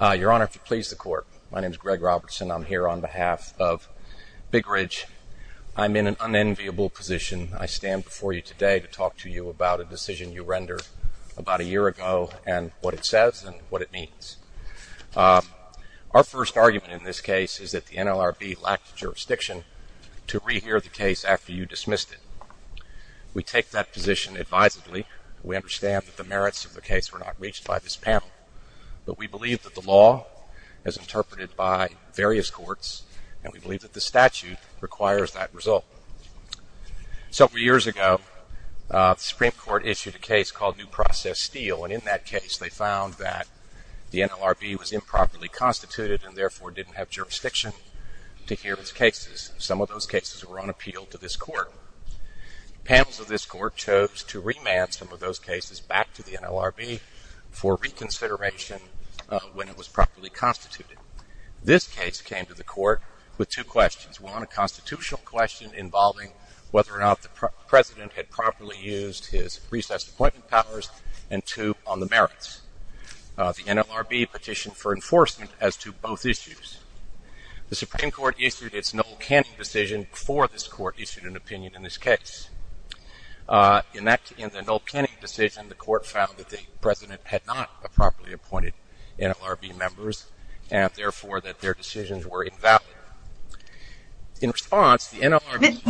Your honor, if you please the court. My name is Greg Robertson. I'm here on behalf of Big Ridge. I'm in an unenviable position. I stand before you today to talk to you about a decision you rendered about a year ago and what it says and what it means. Our first argument in this case is that the NLRB lacked jurisdiction to rehear the case after you dismissed it. We take that position advisedly. We understand that the merits of the case were not reached by this panel, but we believe that the law is interpreted by various courts and we believe that the statute requires that result. Several years ago, the Supreme Court issued a case called New Process Steel and in that case they found that the NLRB was improperly constituted and therefore didn't have jurisdiction to hear its cases. Some of those cases were on appeal to this court. Panels of this court chose to remand some of those cases back to the NLRB for reconsideration when it was properly constituted. This case came to the court with two questions. One, a constitutional question involving whether or not the president had properly used his recessed appointment powers and two, on the merits. The NLRB petitioned for enforcement as to both issues. The Supreme Court issued its null canning decision before this court issued an opinion in this case. In the null canning decision, the court found that the president had not properly appointed NLRB members and therefore that their decisions were invalid. In response, the NLRB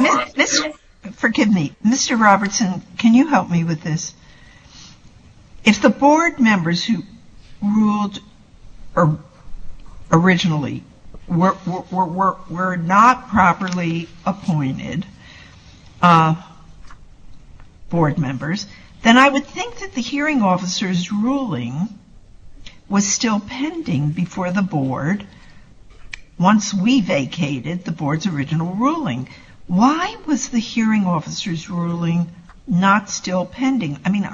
If the board members who ruled originally were not properly appointed board members, then I would think that the hearing officer's ruling was still pending before the board once we vacated the board's original ruling. Why was the hearing officer's ruling not still pending? I mean,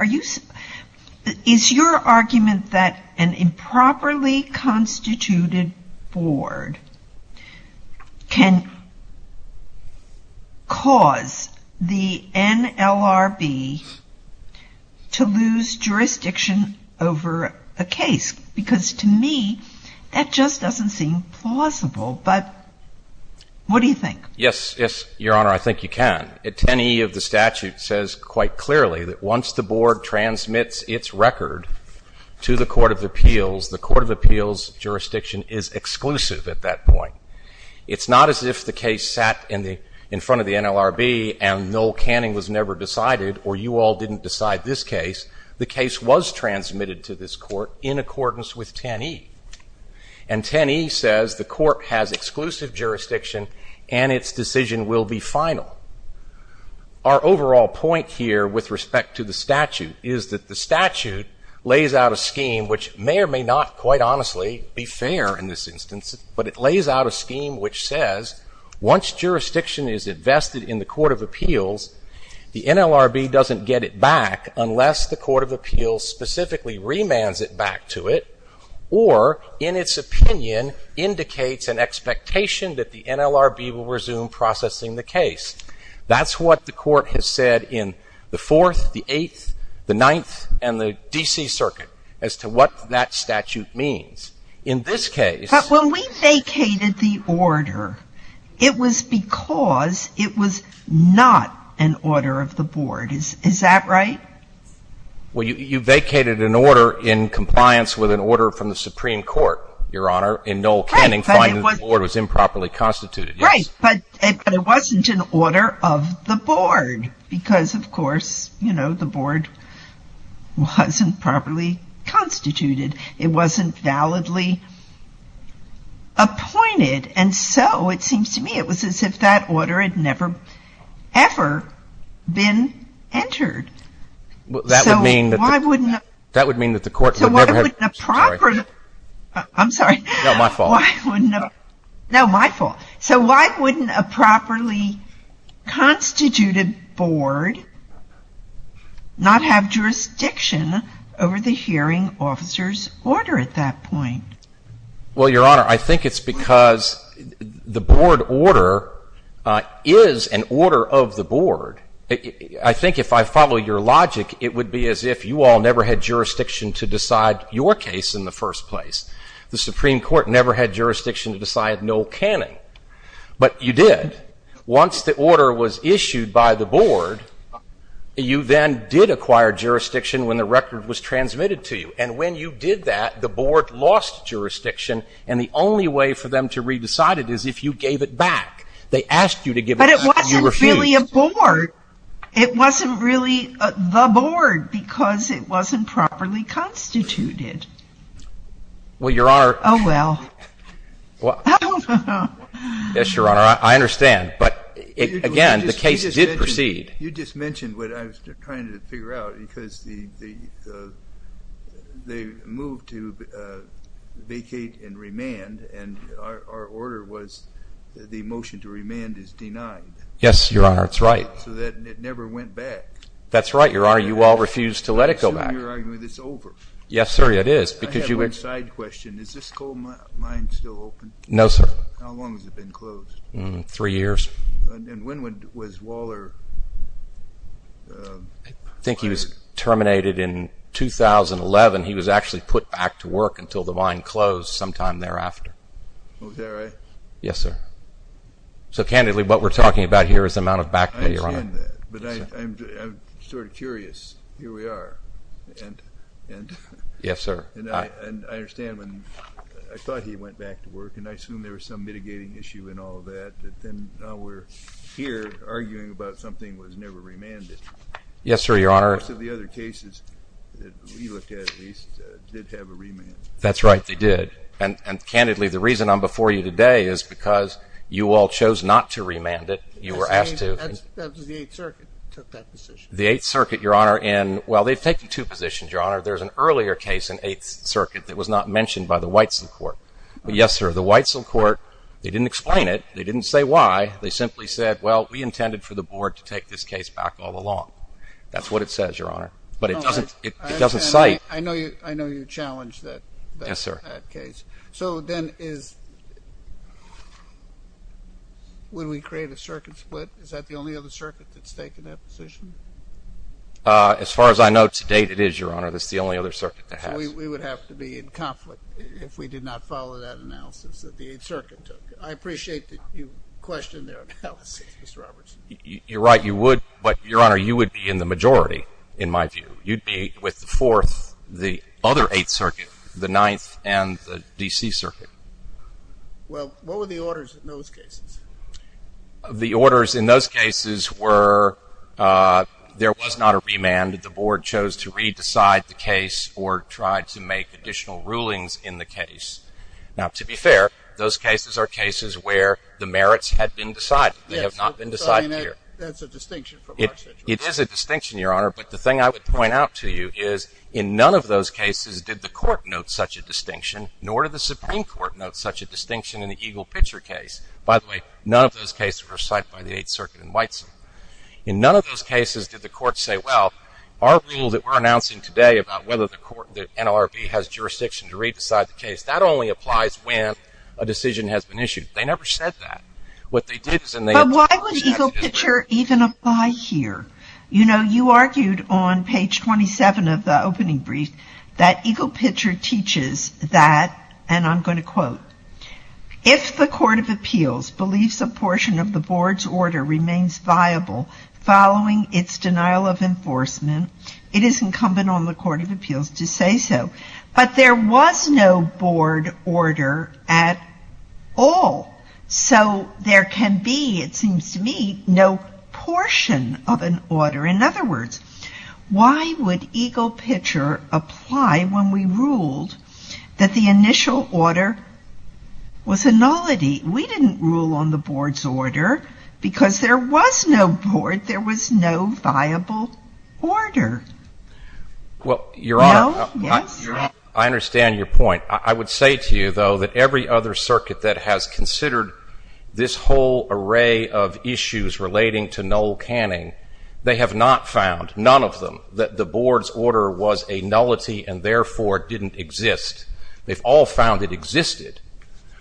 is your argument that an improperly constituted board can cause the NLRB to lose jurisdiction over a case? Because to me, that just doesn't seem plausible. But what do you think? Yes, Your Honor, I think you can. 10E of the statute says quite clearly that once the board transmits its record to the Court of Appeals, the Court of Appeals jurisdiction is exclusive at that point. It's not as if the case sat in front of the NLRB and null canning was never decided or you all didn't decide this case. The case was transmitted to this court in accordance with 10E. And 10E says the court has exclusive jurisdiction and its decision will be final. Our overall point here with respect to the statute is that the statute lays out a scheme, which may or may not quite honestly be fair in this instance, but it lays out a scheme which says once jurisdiction is invested in the Court of Appeals, the NLRB doesn't get it back unless the Court of Appeals specifically remands it back to it, or in its opinion, indicates an expectation that the NLRB will resume processing the case. That's what the Court has said in the Fourth, the Eighth, the Ninth, and the D.C. Circuit as to what that statute means. In this case… But when we vacated the order, it was because it was not an order of the board. Is that right? Well, you vacated an order in compliance with an order from the Supreme Court, Your Honor, in null canning, finding that the board was improperly constituted. Right, but it wasn't an order of the board because, of course, you know, the board wasn't properly constituted. It wasn't validly appointed. And so it seems to me it was as if that order had never ever been entered. So why wouldn't a properly constituted board not have jurisdiction over the hearing officer's order at that point? Well, Your Honor, I think it's because the board order is an order of the board. I think if I follow your logic, it would be as if you all never had jurisdiction to decide your case in the first place. The Supreme Court never had jurisdiction to decide null canning. But you did. And once the order was issued by the board, you then did acquire jurisdiction when the record was transmitted to you. And when you did that, the board lost jurisdiction. And the only way for them to re-decide it is if you gave it back. They asked you to give it back. But it wasn't really a board. It wasn't really the board because it wasn't properly constituted. Oh, well. I don't know. Yes, Your Honor, I understand. But, again, the case did proceed. You just mentioned what I was trying to figure out because they moved to vacate and remand. And our order was the motion to remand is denied. Yes, Your Honor, that's right. So it never went back. That's right, Your Honor. You all refused to let it go back. I assume you're arguing it's over. Yes, sir, it is. I have one side question. Is this coal mine still open? No, sir. How long has it been closed? Three years. And when was Waller fired? I think he was terminated in 2011. He was actually put back to work until the mine closed sometime thereafter. Oh, is that right? Yes, sir. So, candidly, what we're talking about here is the amount of back that you're on. But I'm sort of curious. Here we are. Yes, sir. And I understand when I thought he went back to work, and I assume there was some mitigating issue in all of that, that then now we're here arguing about something that was never remanded. Yes, sir, Your Honor. Most of the other cases that we looked at, at least, did have a remand. That's right, they did. And, candidly, the reason I'm before you today is because you all chose not to remand it. That was the Eighth Circuit that took that decision. The Eighth Circuit, Your Honor. Well, they've taken two positions, Your Honor. There's an earlier case in Eighth Circuit that was not mentioned by the Whitesell Court. Yes, sir, the Whitesell Court, they didn't explain it. They didn't say why. They simply said, well, we intended for the Board to take this case back all along. That's what it says, Your Honor. But it doesn't cite. I know you challenged that case. Yes, sir. So, then, would we create a circuit split? Is that the only other circuit that's taken that position? As far as I know to date, it is, Your Honor. That's the only other circuit that has. So we would have to be in conflict if we did not follow that analysis that the Eighth Circuit took. I appreciate that you questioned their analysis, Mr. Robertson. You're right, you would. But, Your Honor, you would be in the majority, in my view. You'd be with the Fourth, the other Eighth Circuit, the Ninth, and the D.C. Circuit. Well, what were the orders in those cases? The orders in those cases were there was not a remand. The Board chose to re-decide the case or try to make additional rulings in the case. Now, to be fair, those cases are cases where the merits had been decided. They have not been decided here. That's a distinction from our situation. It is a distinction, Your Honor. But the thing I would point out to you is in none of those cases did the Court note such a distinction, nor did the Supreme Court note such a distinction in the Eagle Pitcher case. By the way, none of those cases were cited by the Eighth Circuit in Whiteside. In none of those cases did the Court say, well, our rule that we're announcing today about whether the NLRB has jurisdiction to re-decide the case, that only applies when a decision has been issued. They never said that. But why would Eagle Pitcher even apply here? You know, you argued on page 27 of the opening brief that Eagle Pitcher teaches that, and I'm going to quote, if the Court of Appeals believes a portion of the Board's order remains viable following its denial of enforcement, it is incumbent on the Court of Appeals to say so. But there was no Board order at all. So there can be, it seems to me, no portion of an order. In other words, why would Eagle Pitcher apply when we ruled that the initial order was a nullity? We didn't rule on the Board's order because there was no Board. There was no viable order. Well, Your Honor, I understand your point. I would say to you, though, that every other circuit that has considered this whole array of issues relating to null canning, they have not found, none of them, that the Board's order was a nullity and therefore didn't exist. They've all found it existed,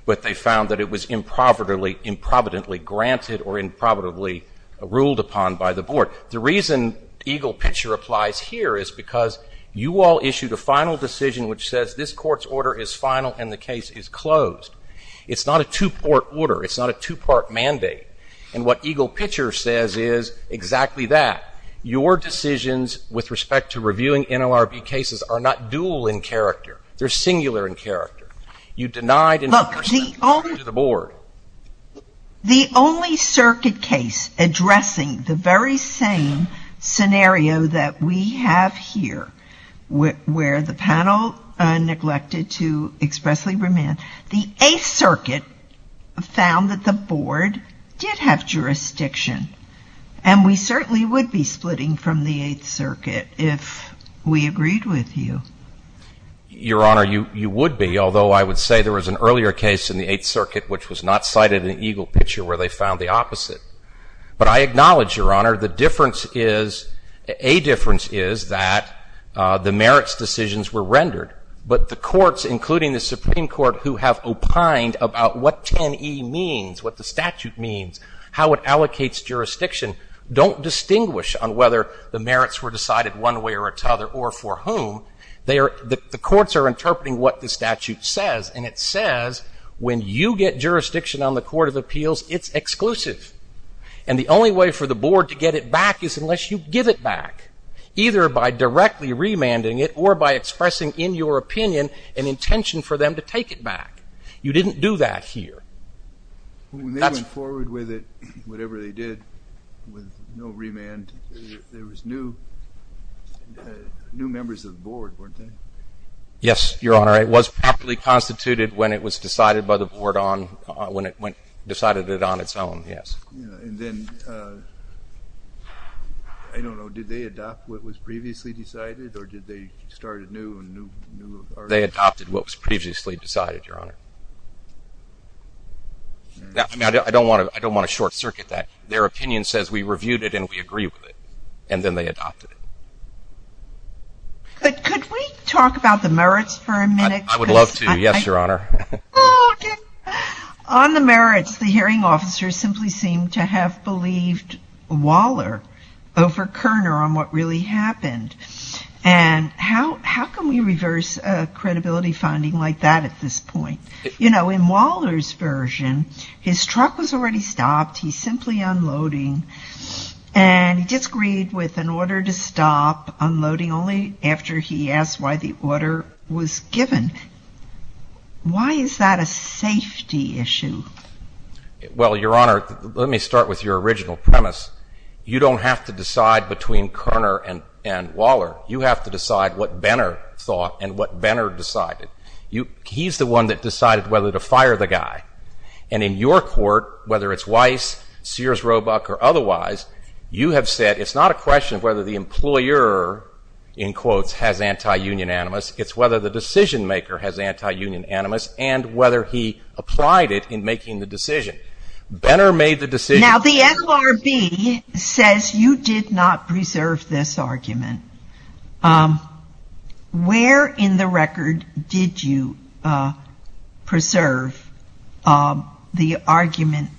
but they found that it was improbably granted or improbably ruled upon by the Board. The reason Eagle Pitcher applies here is because you all issued a final decision which says, this Court's order is final and the case is closed. It's not a two-part order. It's not a two-part mandate. And what Eagle Pitcher says is exactly that. Your decisions with respect to reviewing NLRB cases are not dual in character. They're singular in character. You denied in two percent to the Board. The only circuit case addressing the very same scenario that we have here, where the panel neglected to expressly remand, the Eighth Circuit found that the Board did have jurisdiction. And we certainly would be splitting from the Eighth Circuit if we agreed with you. Your Honor, you would be, although I would say there was an earlier case in the Eighth Circuit which was not cited in Eagle Pitcher where they found the opposite. But I acknowledge, Your Honor, the difference is, a difference is that the merits decisions were rendered. But the courts, including the Supreme Court, who have opined about what 10E means, what the statute means, how it allocates jurisdiction, don't distinguish on whether the merits were decided one way or another or for whom. The courts are interpreting what the statute says. And it says when you get jurisdiction on the Court of Appeals, it's exclusive. And the only way for the Board to get it back is unless you give it back, either by directly remanding it or by expressing in your opinion an intention for them to take it back. You didn't do that here. When they went forward with it, whatever they did, with no remand, there was new members of the Board, weren't there? Yes, Your Honor. It was properly constituted when it was decided by the Board on, when it decided it on its own, yes. And then, I don't know, did they adopt what was previously decided or did they start anew? They adopted what was previously decided, Your Honor. I don't want to short-circuit that. Their opinion says we reviewed it and we agree with it. And then they adopted it. Could we talk about the merits for a minute? I would love to, yes, Your Honor. On the merits, the hearing officers simply seem to have believed Waller over Kerner on what really happened. And how can we reverse a credibility finding like that at this point? You know, in Waller's version, his truck was already stopped. He's simply unloading. And he disagreed with an order to stop unloading only after he asked why the order was given. Why is that a safety issue? Well, Your Honor, let me start with your original premise. You don't have to decide between Kerner and Waller. You have to decide what Benner thought and what Benner decided. He's the one that decided whether to fire the guy. And in your court, whether it's Weiss, Sears, Roebuck, or otherwise, you have said, it's not a question of whether the employer, in quotes, has anti-union animus. It's whether the decision-maker has anti-union animus and whether he applied it in making the decision. Now, the LRB says you did not preserve this argument. Where in the record did you preserve the argument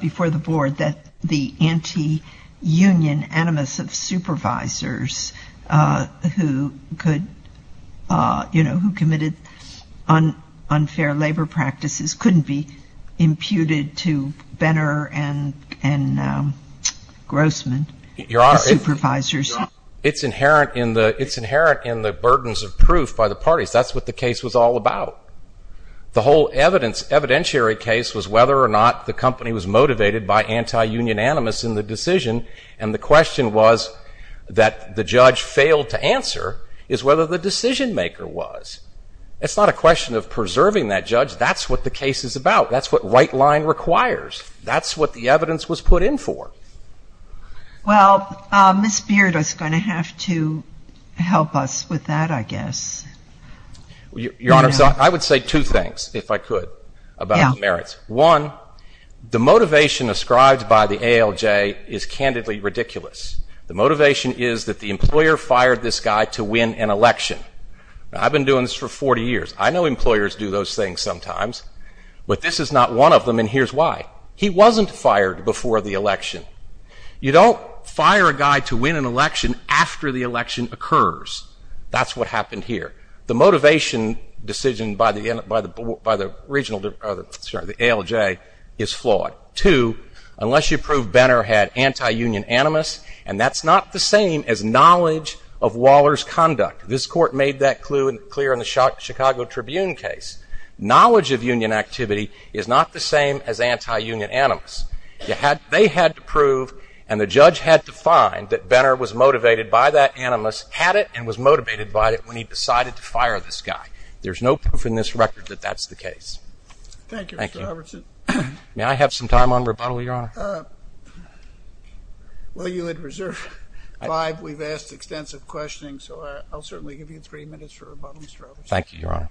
before the board that the anti-union animus of supervisors who committed unfair labor practices couldn't be imputed to Benner and Grossman, the supervisors? Your Honor, it's inherent in the burdens of proof by the parties. That's what the case was all about. The whole evidentiary case was whether or not the company was motivated by anti-union animus in the decision. And the question was that the judge failed to answer is whether the decision-maker was. It's not a question of preserving that judge. That's what the case is about. That's what right line requires. That's what the evidence was put in for. Well, Ms. Beard is going to have to help us with that, I guess. Your Honor, I would say two things, if I could, about the merits. One, the motivation ascribed by the ALJ is candidly ridiculous. The motivation is that the employer fired this guy to win an election. I've been doing this for 40 years. I know employers do those things sometimes. But this is not one of them, and here's why. He wasn't fired before the election. You don't fire a guy to win an election after the election occurs. That's what happened here. The motivation decision by the ALJ is flawed. Two, unless you prove Benner had anti-union animus, and that's not the same as knowledge of Waller's conduct. This court made that clear in the Chicago Tribune case. Knowledge of union activity is not the same as anti-union animus. They had to prove and the judge had to find that Benner was motivated by that animus, had it, and was motivated by it when he decided to fire this guy. There's no proof in this record that that's the case. Thank you, Mr. Robertson. May I have some time on rebuttal, Your Honor? Well, you had reserved five. We've asked extensive questions, so I'll certainly give you three minutes for rebuttal, Mr. Robertson. Thank you, Your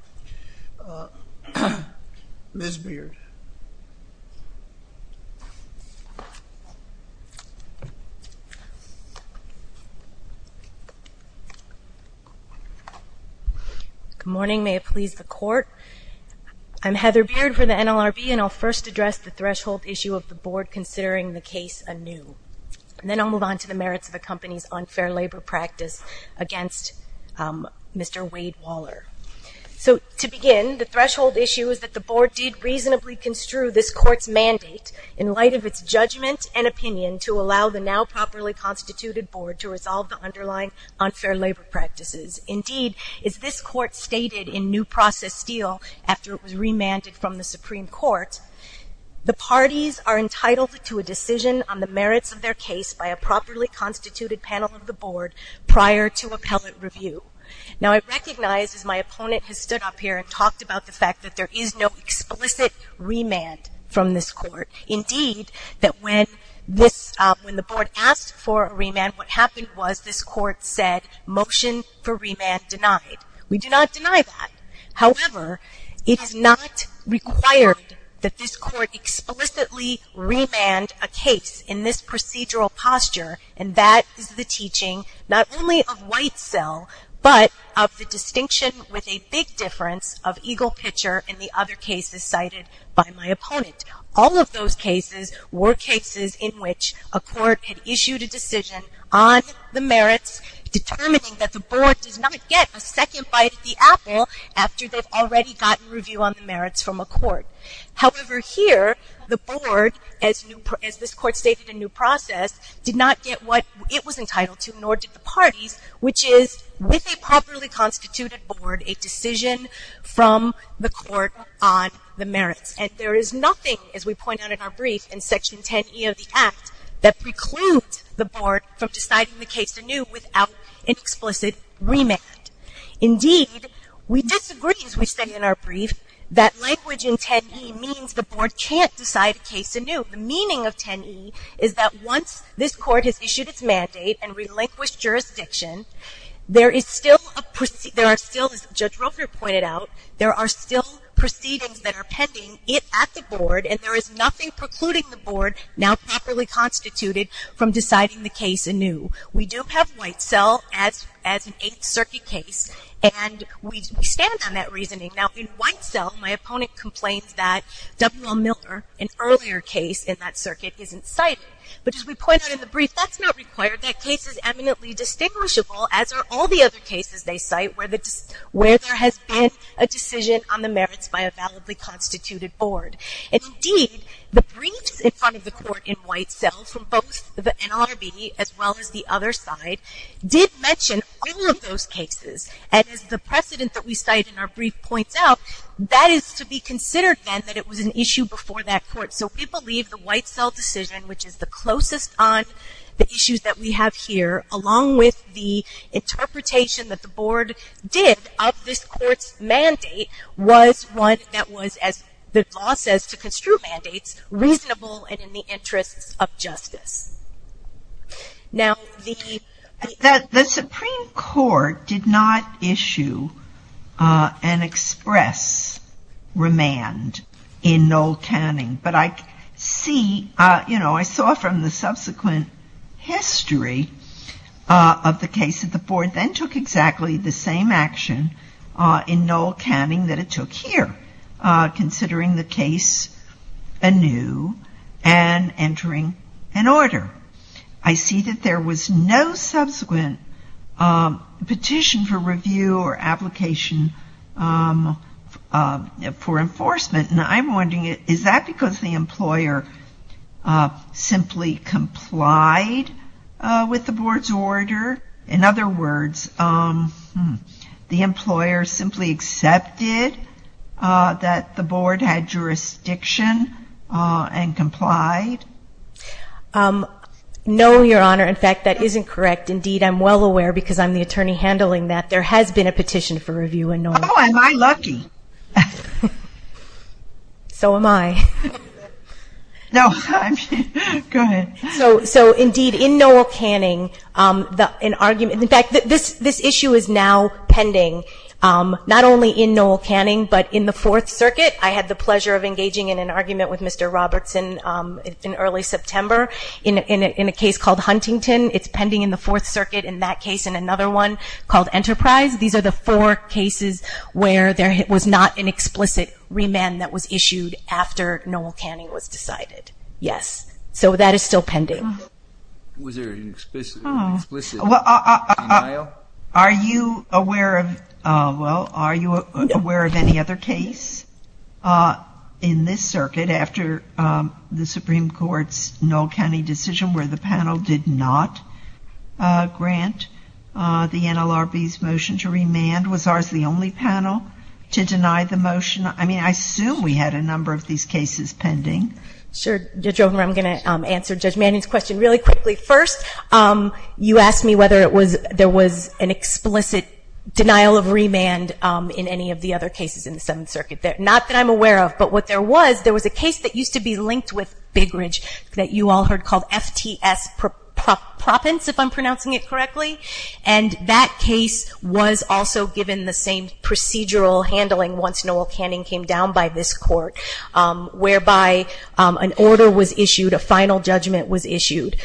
Honor. Ms. Beard. Good morning. May it please the Court. I'm Heather Beard for the NLRB, and I'll first address the threshold issue of the Board considering the case anew, and then I'll move on to the merits of the company's unfair labor practice against Mr. Wade Waller. So to begin, the threshold issue is that the Board did reasonably construe this Court's mandate in light of its judgment and opinion to allow the now properly constituted Board to resolve the underlying unfair labor practices. Indeed, as this Court stated in New Process Steel after it was remanded from the Supreme Court, the parties are entitled to a decision on the merits of their case by a properly constituted panel of the Board prior to appellate review. Now, I recognize as my opponent has stood up here and talked about the fact that there is no explicit remand from this Court. Indeed, that when this, when the Board asked for a remand, what happened was this Court said, motion for remand denied. We do not deny that. However, it is not required that this Court explicitly remand a case in this procedural posture, and that is the teaching not only of Whitesell, but of the distinction with a big difference of Eagle Pitcher and the other cases cited by my opponent. All of those cases were cases in which a Court had issued a decision on the merits, determining that the Board does not get a second bite at the apple after they've already gotten review on the merits from a Court. However, here, the Board, as this Court stated in new process, did not get what it was entitled to, nor did the parties, which is with a properly constituted Board, a decision from the Court on the merits. And there is nothing, as we point out in our brief in Section 10e of the Act, that precludes the Board from deciding the case anew without an explicit remand. Indeed, we disagree, as we said in our brief, that language in 10e means the Board can't decide a case anew. The meaning of 10e is that once this Court has issued its mandate and relinquished jurisdiction, there are still, as Judge Roeper pointed out, there are still proceedings that are pending at the Board, and there is nothing precluding the Board, now properly constituted, from deciding the case anew. We do have Whitesell as an Eighth Circuit case, and we stand on that reasoning. Now, in Whitesell, my opponent complains that W.L. Milner, an earlier case in that circuit, isn't cited. But as we point out in the brief, that's not required. That case is eminently distinguishable, as are all the other cases they cite, where there has been a decision on the merits by a validly constituted Board. Indeed, the briefs in front of the Court in Whitesell, from both the NLRB as well as the other side, did mention all of those cases, and as the precedent that we cite in our brief points out, that is to be considered then that it was an issue before that Court. So we believe the Whitesell decision, which is the closest on the issues that we have here, along with the interpretation that the Board did of this Court's mandate, was one that was, as the law says to construe mandates, reasonable and in the interests of justice. Now, the Supreme Court did not issue an express remand in Noel Canning, but I see, you know, I saw from the subsequent history of the case that the Board then took exactly the same action in Noel Canning that it took here, considering the case anew and entering an order. I see that there was no subsequent petition for review or application for enforcement, and I'm wondering, is that because the employer simply complied with the Board's order? In other words, the employer simply accepted that the Board had jurisdiction and complied? No, Your Honor. In fact, that isn't correct. Indeed, I'm well aware, because I'm the attorney handling that, there has been a petition for review in Noel Canning. Oh, am I lucky. So am I. No, I mean, go ahead. So, indeed, in Noel Canning, an argument, in fact, this issue is now pending, not only in Noel Canning, but in the Fourth Circuit. I had the pleasure of engaging in an argument with Mr. Robertson in early September in a case called Huntington. It's pending in the Fourth Circuit in that case and another one called Enterprise. These are the four cases where there was not an explicit remand that was issued after Noel Canning was decided. Yes, so that is still pending. Was there an explicit denial? Are you aware of any other case in this circuit after the Supreme Court's Noel Canning decision where the panel did not grant the NLRB's motion to remand? Was ours the only panel to deny the motion? I mean, I assume we had a number of these cases pending. Sure, Judge Robertson, I'm going to answer Judge Manning's question really quickly. First, you asked me whether there was an explicit denial of remand in any of the other cases in the Seventh Circuit. Not that I'm aware of, but what there was, there was a case that used to be linked with Big Ridge that you all heard called FTS Proppins, if I'm pronouncing it correctly, and that case was also given the same procedural handling once Noel Canning came down by this court, whereby an order was issued, a final judgment was issued,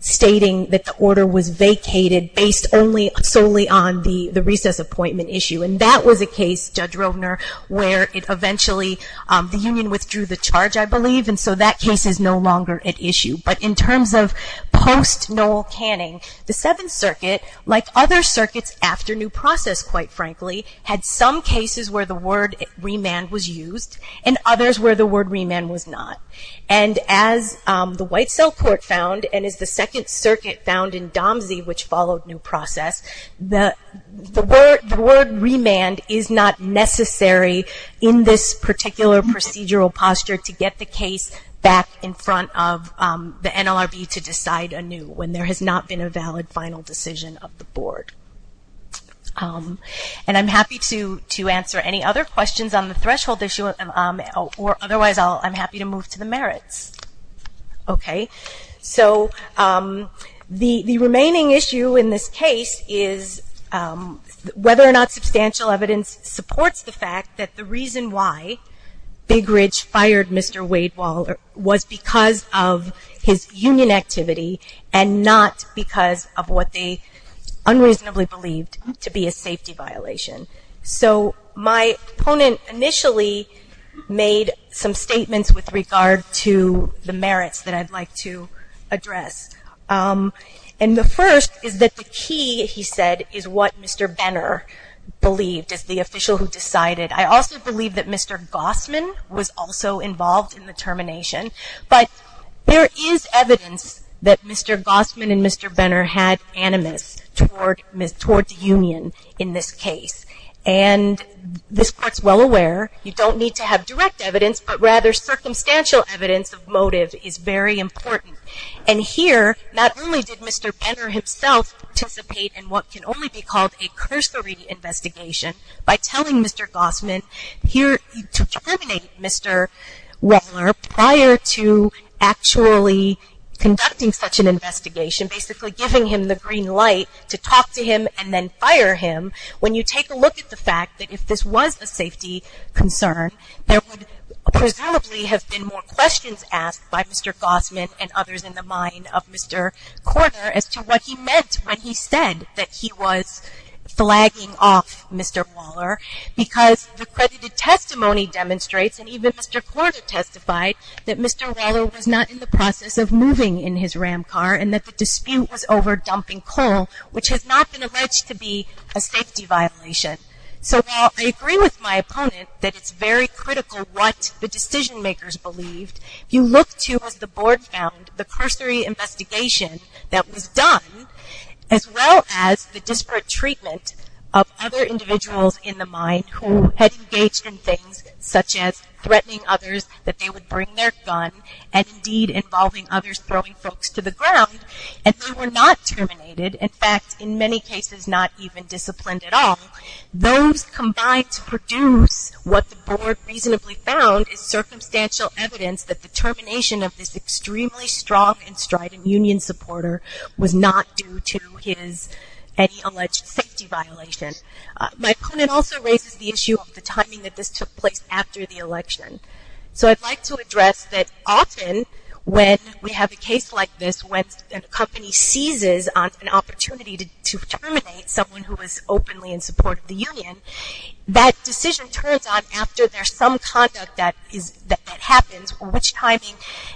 stating that the order was vacated based solely on the recess appointment issue. And that was a case, Judge Rovner, where it eventually, the union withdrew the charge, I believe, and so that case is no longer at issue. But in terms of post-Noel Canning, the Seventh Circuit, like other circuits after New Process, quite frankly, had some cases where the word remand was used and others where the word remand was not. And as the White Cell Court found and as the Second Circuit found in Domsey, which followed New Process, the word remand is not necessary in this particular procedural posture to get the case back in front of the NLRB to decide anew when there has not been a valid final decision of the board. And I'm happy to answer any other questions on the threshold issue or otherwise I'm happy to move to the merits. Okay, so the remaining issue in this case is whether or not substantial evidence supports the fact that the reason why Big Ridge fired Mr. Wade-Waller was because of his union activity and not because of what they unreasonably believed to be a safety violation. So my opponent initially made some statements with regard to the merits that I'd like to address. And the first is that the key, he said, is what Mr. Benner believed as the official who decided. I also believe that Mr. Gossman was also involved in the termination. But there is evidence that Mr. Gossman and Mr. Benner had animus toward the union in this case. And this court's well aware, you don't need to have direct evidence, but rather circumstantial evidence of motive is very important. And here, not only did Mr. Benner himself participate in what can only be called a cursory investigation by telling Mr. Gossman to terminate Mr. Waller prior to actually conducting such an investigation, basically giving him the green light to talk to him and then fire him, when you take a look at the fact that if this was a safety concern, there would presumably have been more questions asked by Mr. Gossman and others in the mind of Mr. Korner as to what he meant when he said that he was flagging off Mr. Waller, because the credited testimony demonstrates, and even Mr. Korner testified, that Mr. Waller was not in the process of moving in his Ram car and that the dispute was over dumping coal, which has not been alleged to be a safety violation. So while I agree with my opponent that it's very critical what the decision makers believed, you look to, as the board found, the cursory investigation that was done, as well as the disparate treatment of other individuals in the mind who had engaged in things such as threatening others that they would bring their gun, and indeed involving others throwing folks to the ground, and they were not terminated. In fact, in many cases, not even disciplined at all. Those combined to produce what the board reasonably found is circumstantial evidence that the termination of this extremely strong and strident union supporter was not due to his any alleged safety violation. My opponent also raises the issue of the timing that this took place after the election. So I'd like to address that often when we have a case like this, when a company seizes on an opportunity to terminate someone who was openly in support of the union, that decision turns on after there's some conduct that happens, or which timing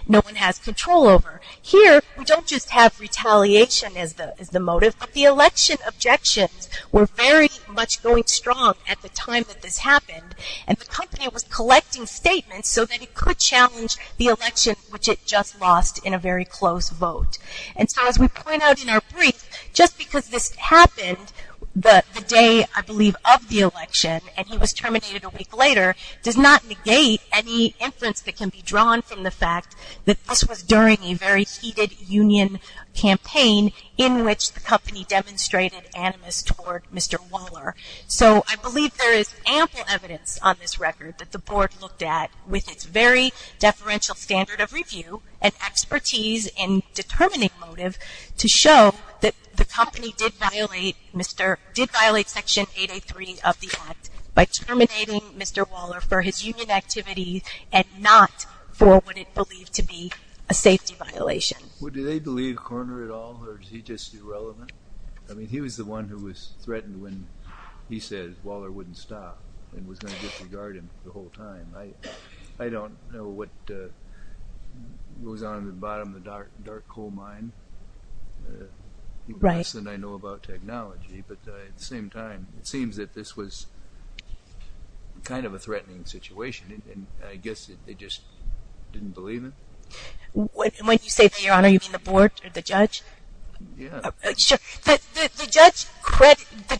no one has control over. Here, we don't just have retaliation as the motive, but the election objections were very much going strong at the time that this happened, and the company was collecting statements so that it could challenge the election, which it just lost in a very close vote. And so as we point out in our brief, just because this happened the day, I believe, of the election, and he was terminated a week later, does not negate any inference that can be drawn from the fact that this was during a very heated union campaign in which the company demonstrated animus toward Mr. Waller. So I believe there is ample evidence on this record that the board looked at with its very deferential standard of review and expertise in determining motive to show that the company did violate Section 883 of the Act by terminating Mr. Waller for his union activity and not for what it believed to be a safety violation. Well, do they believe Korner at all, or is he just irrelevant? I mean, he was the one who was threatened when he said Waller wouldn't stop and was going to disregard him the whole time. I don't know what goes on in the bottom of the dark coal mine, even less than I know about technology. But at the same time, it seems that this was kind of a threatening situation, and I guess they just didn't believe him? When you say, Your Honor, you mean the board or the judge? Yeah. The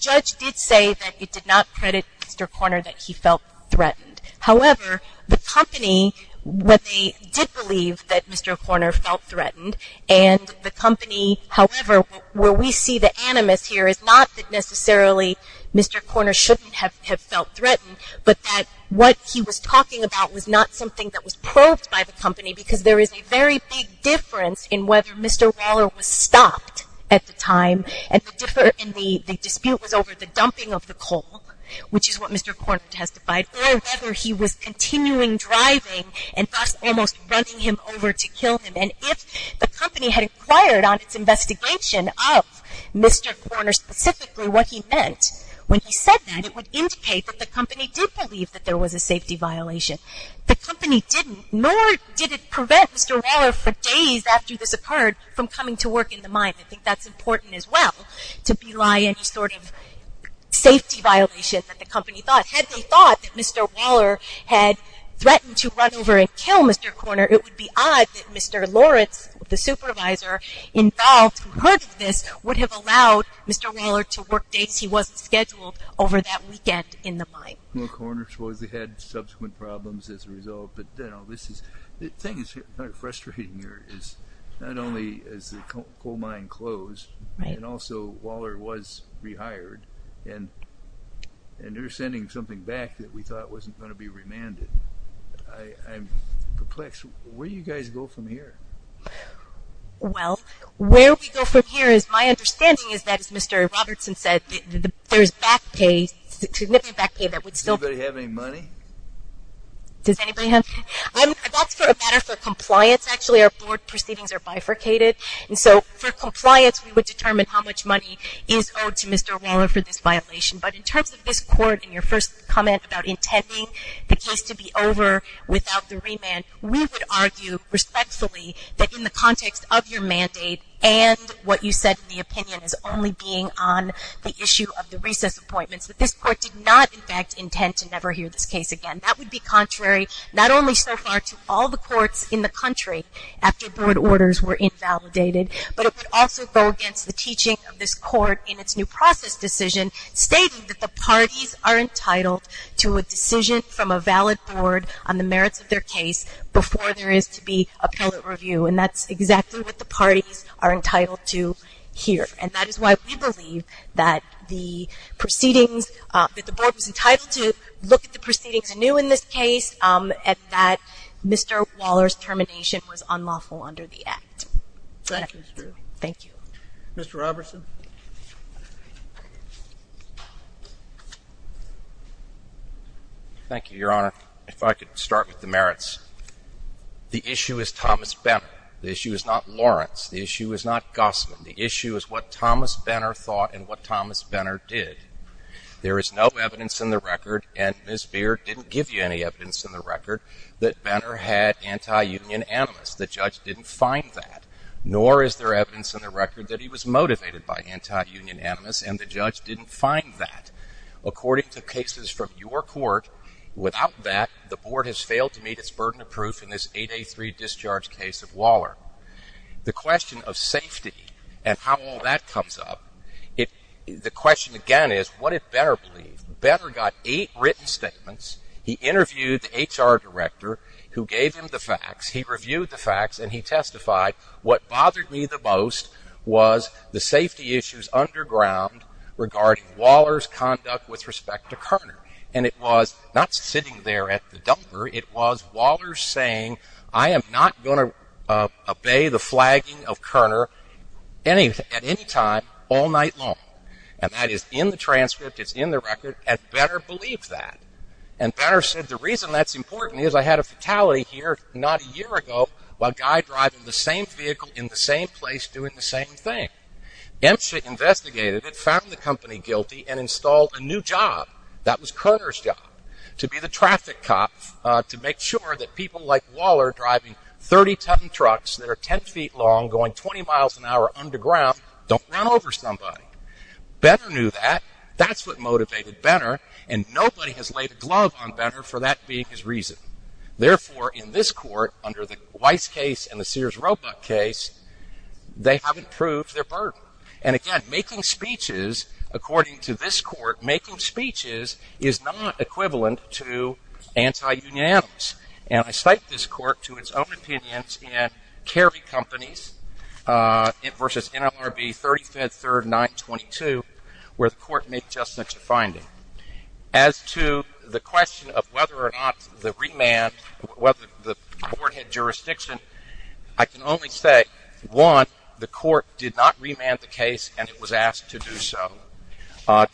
judge did say that it did not credit Mr. Korner that he felt threatened. However, the company, when they did believe that Mr. Korner felt threatened, and the company, however, where we see the animus here is not that necessarily Mr. Korner shouldn't have felt threatened, but that what he was talking about was not something that was proved by the company because there is a very big difference in whether Mr. Waller was stopped at the time and the dispute was over the dumping of the coal, which is what Mr. Korner testified, or whether he was continuing driving and thus almost running him over to kill him. And if the company had inquired on its investigation of Mr. Korner specifically what he meant when he said that, it would indicate that the company did believe that there was a safety violation. The company didn't, nor did it prevent Mr. Waller for days after this occurred, from coming to work in the mine. I think that's important as well, to belie any sort of safety violation that the company thought. Had they thought that Mr. Waller had threatened to run over and kill Mr. Korner, it would be odd that Mr. Loritz, the supervisor involved who heard of this, would have allowed Mr. Waller to work days he wasn't scheduled over that weekend in the mine. Mr. Korner supposedly had subsequent problems as a result, but the thing that's frustrating here is not only is the coal mine closed, and also Waller was rehired, and they're sending something back that we thought wasn't going to be remanded. I'm perplexed. Where do you guys go from here? Well, where we go from here is, my understanding is that as Mr. Robertson said, there's back pay, significant back pay that would still be. Does anybody have any money? Does anybody have? That's for a matter for compliance, actually. Our board proceedings are bifurcated, and so for compliance we would determine how much money is owed to Mr. Waller for this violation. But in terms of this court and your first comment about intending the case to be over without the remand, we would argue respectfully that in the context of your mandate and what you said in the opinion as only being on the issue of the recess appointments, that this court did not in fact intend to never hear this case again. That would be contrary not only so far to all the courts in the country after board orders were invalidated, but it would also go against the teaching of this court in its new process decision stating that the parties are entitled to a decision from a valid board on the merits of their case before there is to be appellate review, and that's exactly what the parties are entitled to here. And that is why we believe that the proceedings, that the board was entitled to look at the proceedings anew in this case, and that Mr. Waller's termination was unlawful under the Act. Thank you, Ms. Drew. Thank you. Mr. Robertson. Thank you, Your Honor. If I could start with the merits. The issue is Thomas Benner. The issue is not Lawrence. The issue is not Gossman. The issue is what Thomas Benner thought and what Thomas Benner did. There is no evidence in the record, and Ms. Beard didn't give you any evidence in the record, that Benner had anti-union animus. The judge didn't find that, nor is there evidence in the record that he was motivated by anti-union animus, and the judge didn't find that. According to cases from your court, without that the board has failed to meet its burden of proof in this 8A3 discharge case of Waller. The question of safety and how all that comes up, the question again is what did Benner believe? Benner got eight written statements. He interviewed the HR director who gave him the facts. He reviewed the facts, and he testified what bothered me the most was the safety issues underground regarding Waller's conduct with respect to Kerner, and it was not sitting there at the dumper. It was Waller saying, I am not going to obey the flagging of Kerner at any time all night long, and that is in the transcript. It's in the record, and Benner believed that, and Benner said the reason that's important is I had a fatality here not a year ago while a guy driving the same vehicle in the same place doing the same thing. Emsha investigated it, found the company guilty, and installed a new job that was Kerner's job to be the traffic cop to make sure that people like Waller driving 30-ton trucks that are 10 feet long going 20 miles an hour underground don't run over somebody. Benner knew that. That's what motivated Benner, and nobody has laid a glove on Benner for that being his reason. Therefore, in this court under the Weiss case and the Sears Roebuck case, they haven't proved their burden, and again, making speeches, according to this court, making speeches is not equivalent to anti-union animals, and I cite this court to its own opinions in Carey Companies versus NLRB 35th 3rd 922 where the court made just such a finding. As to the question of whether or not the remand, whether the court had jurisdiction, I can only say, one, the court did not remand the case, and it was asked to do so.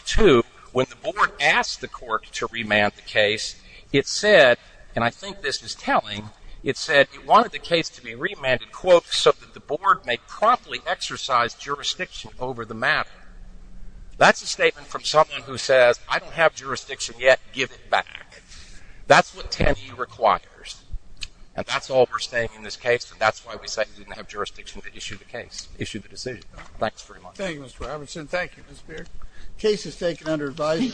Two, when the board asked the court to remand the case, it said, and I think this is telling, it said it wanted the case to be remanded, quote, so that the board may promptly exercise jurisdiction over the matter. That's a statement from someone who says, I don't have jurisdiction yet. Give it back. That's what 10E requires, and that's all we're saying in this case, and that's why we say we didn't have jurisdiction to issue the case, issue the decision. Thanks very much. Thank you, Mr. Robinson. Thank you, Ms. Beard. Case is taken under advisory.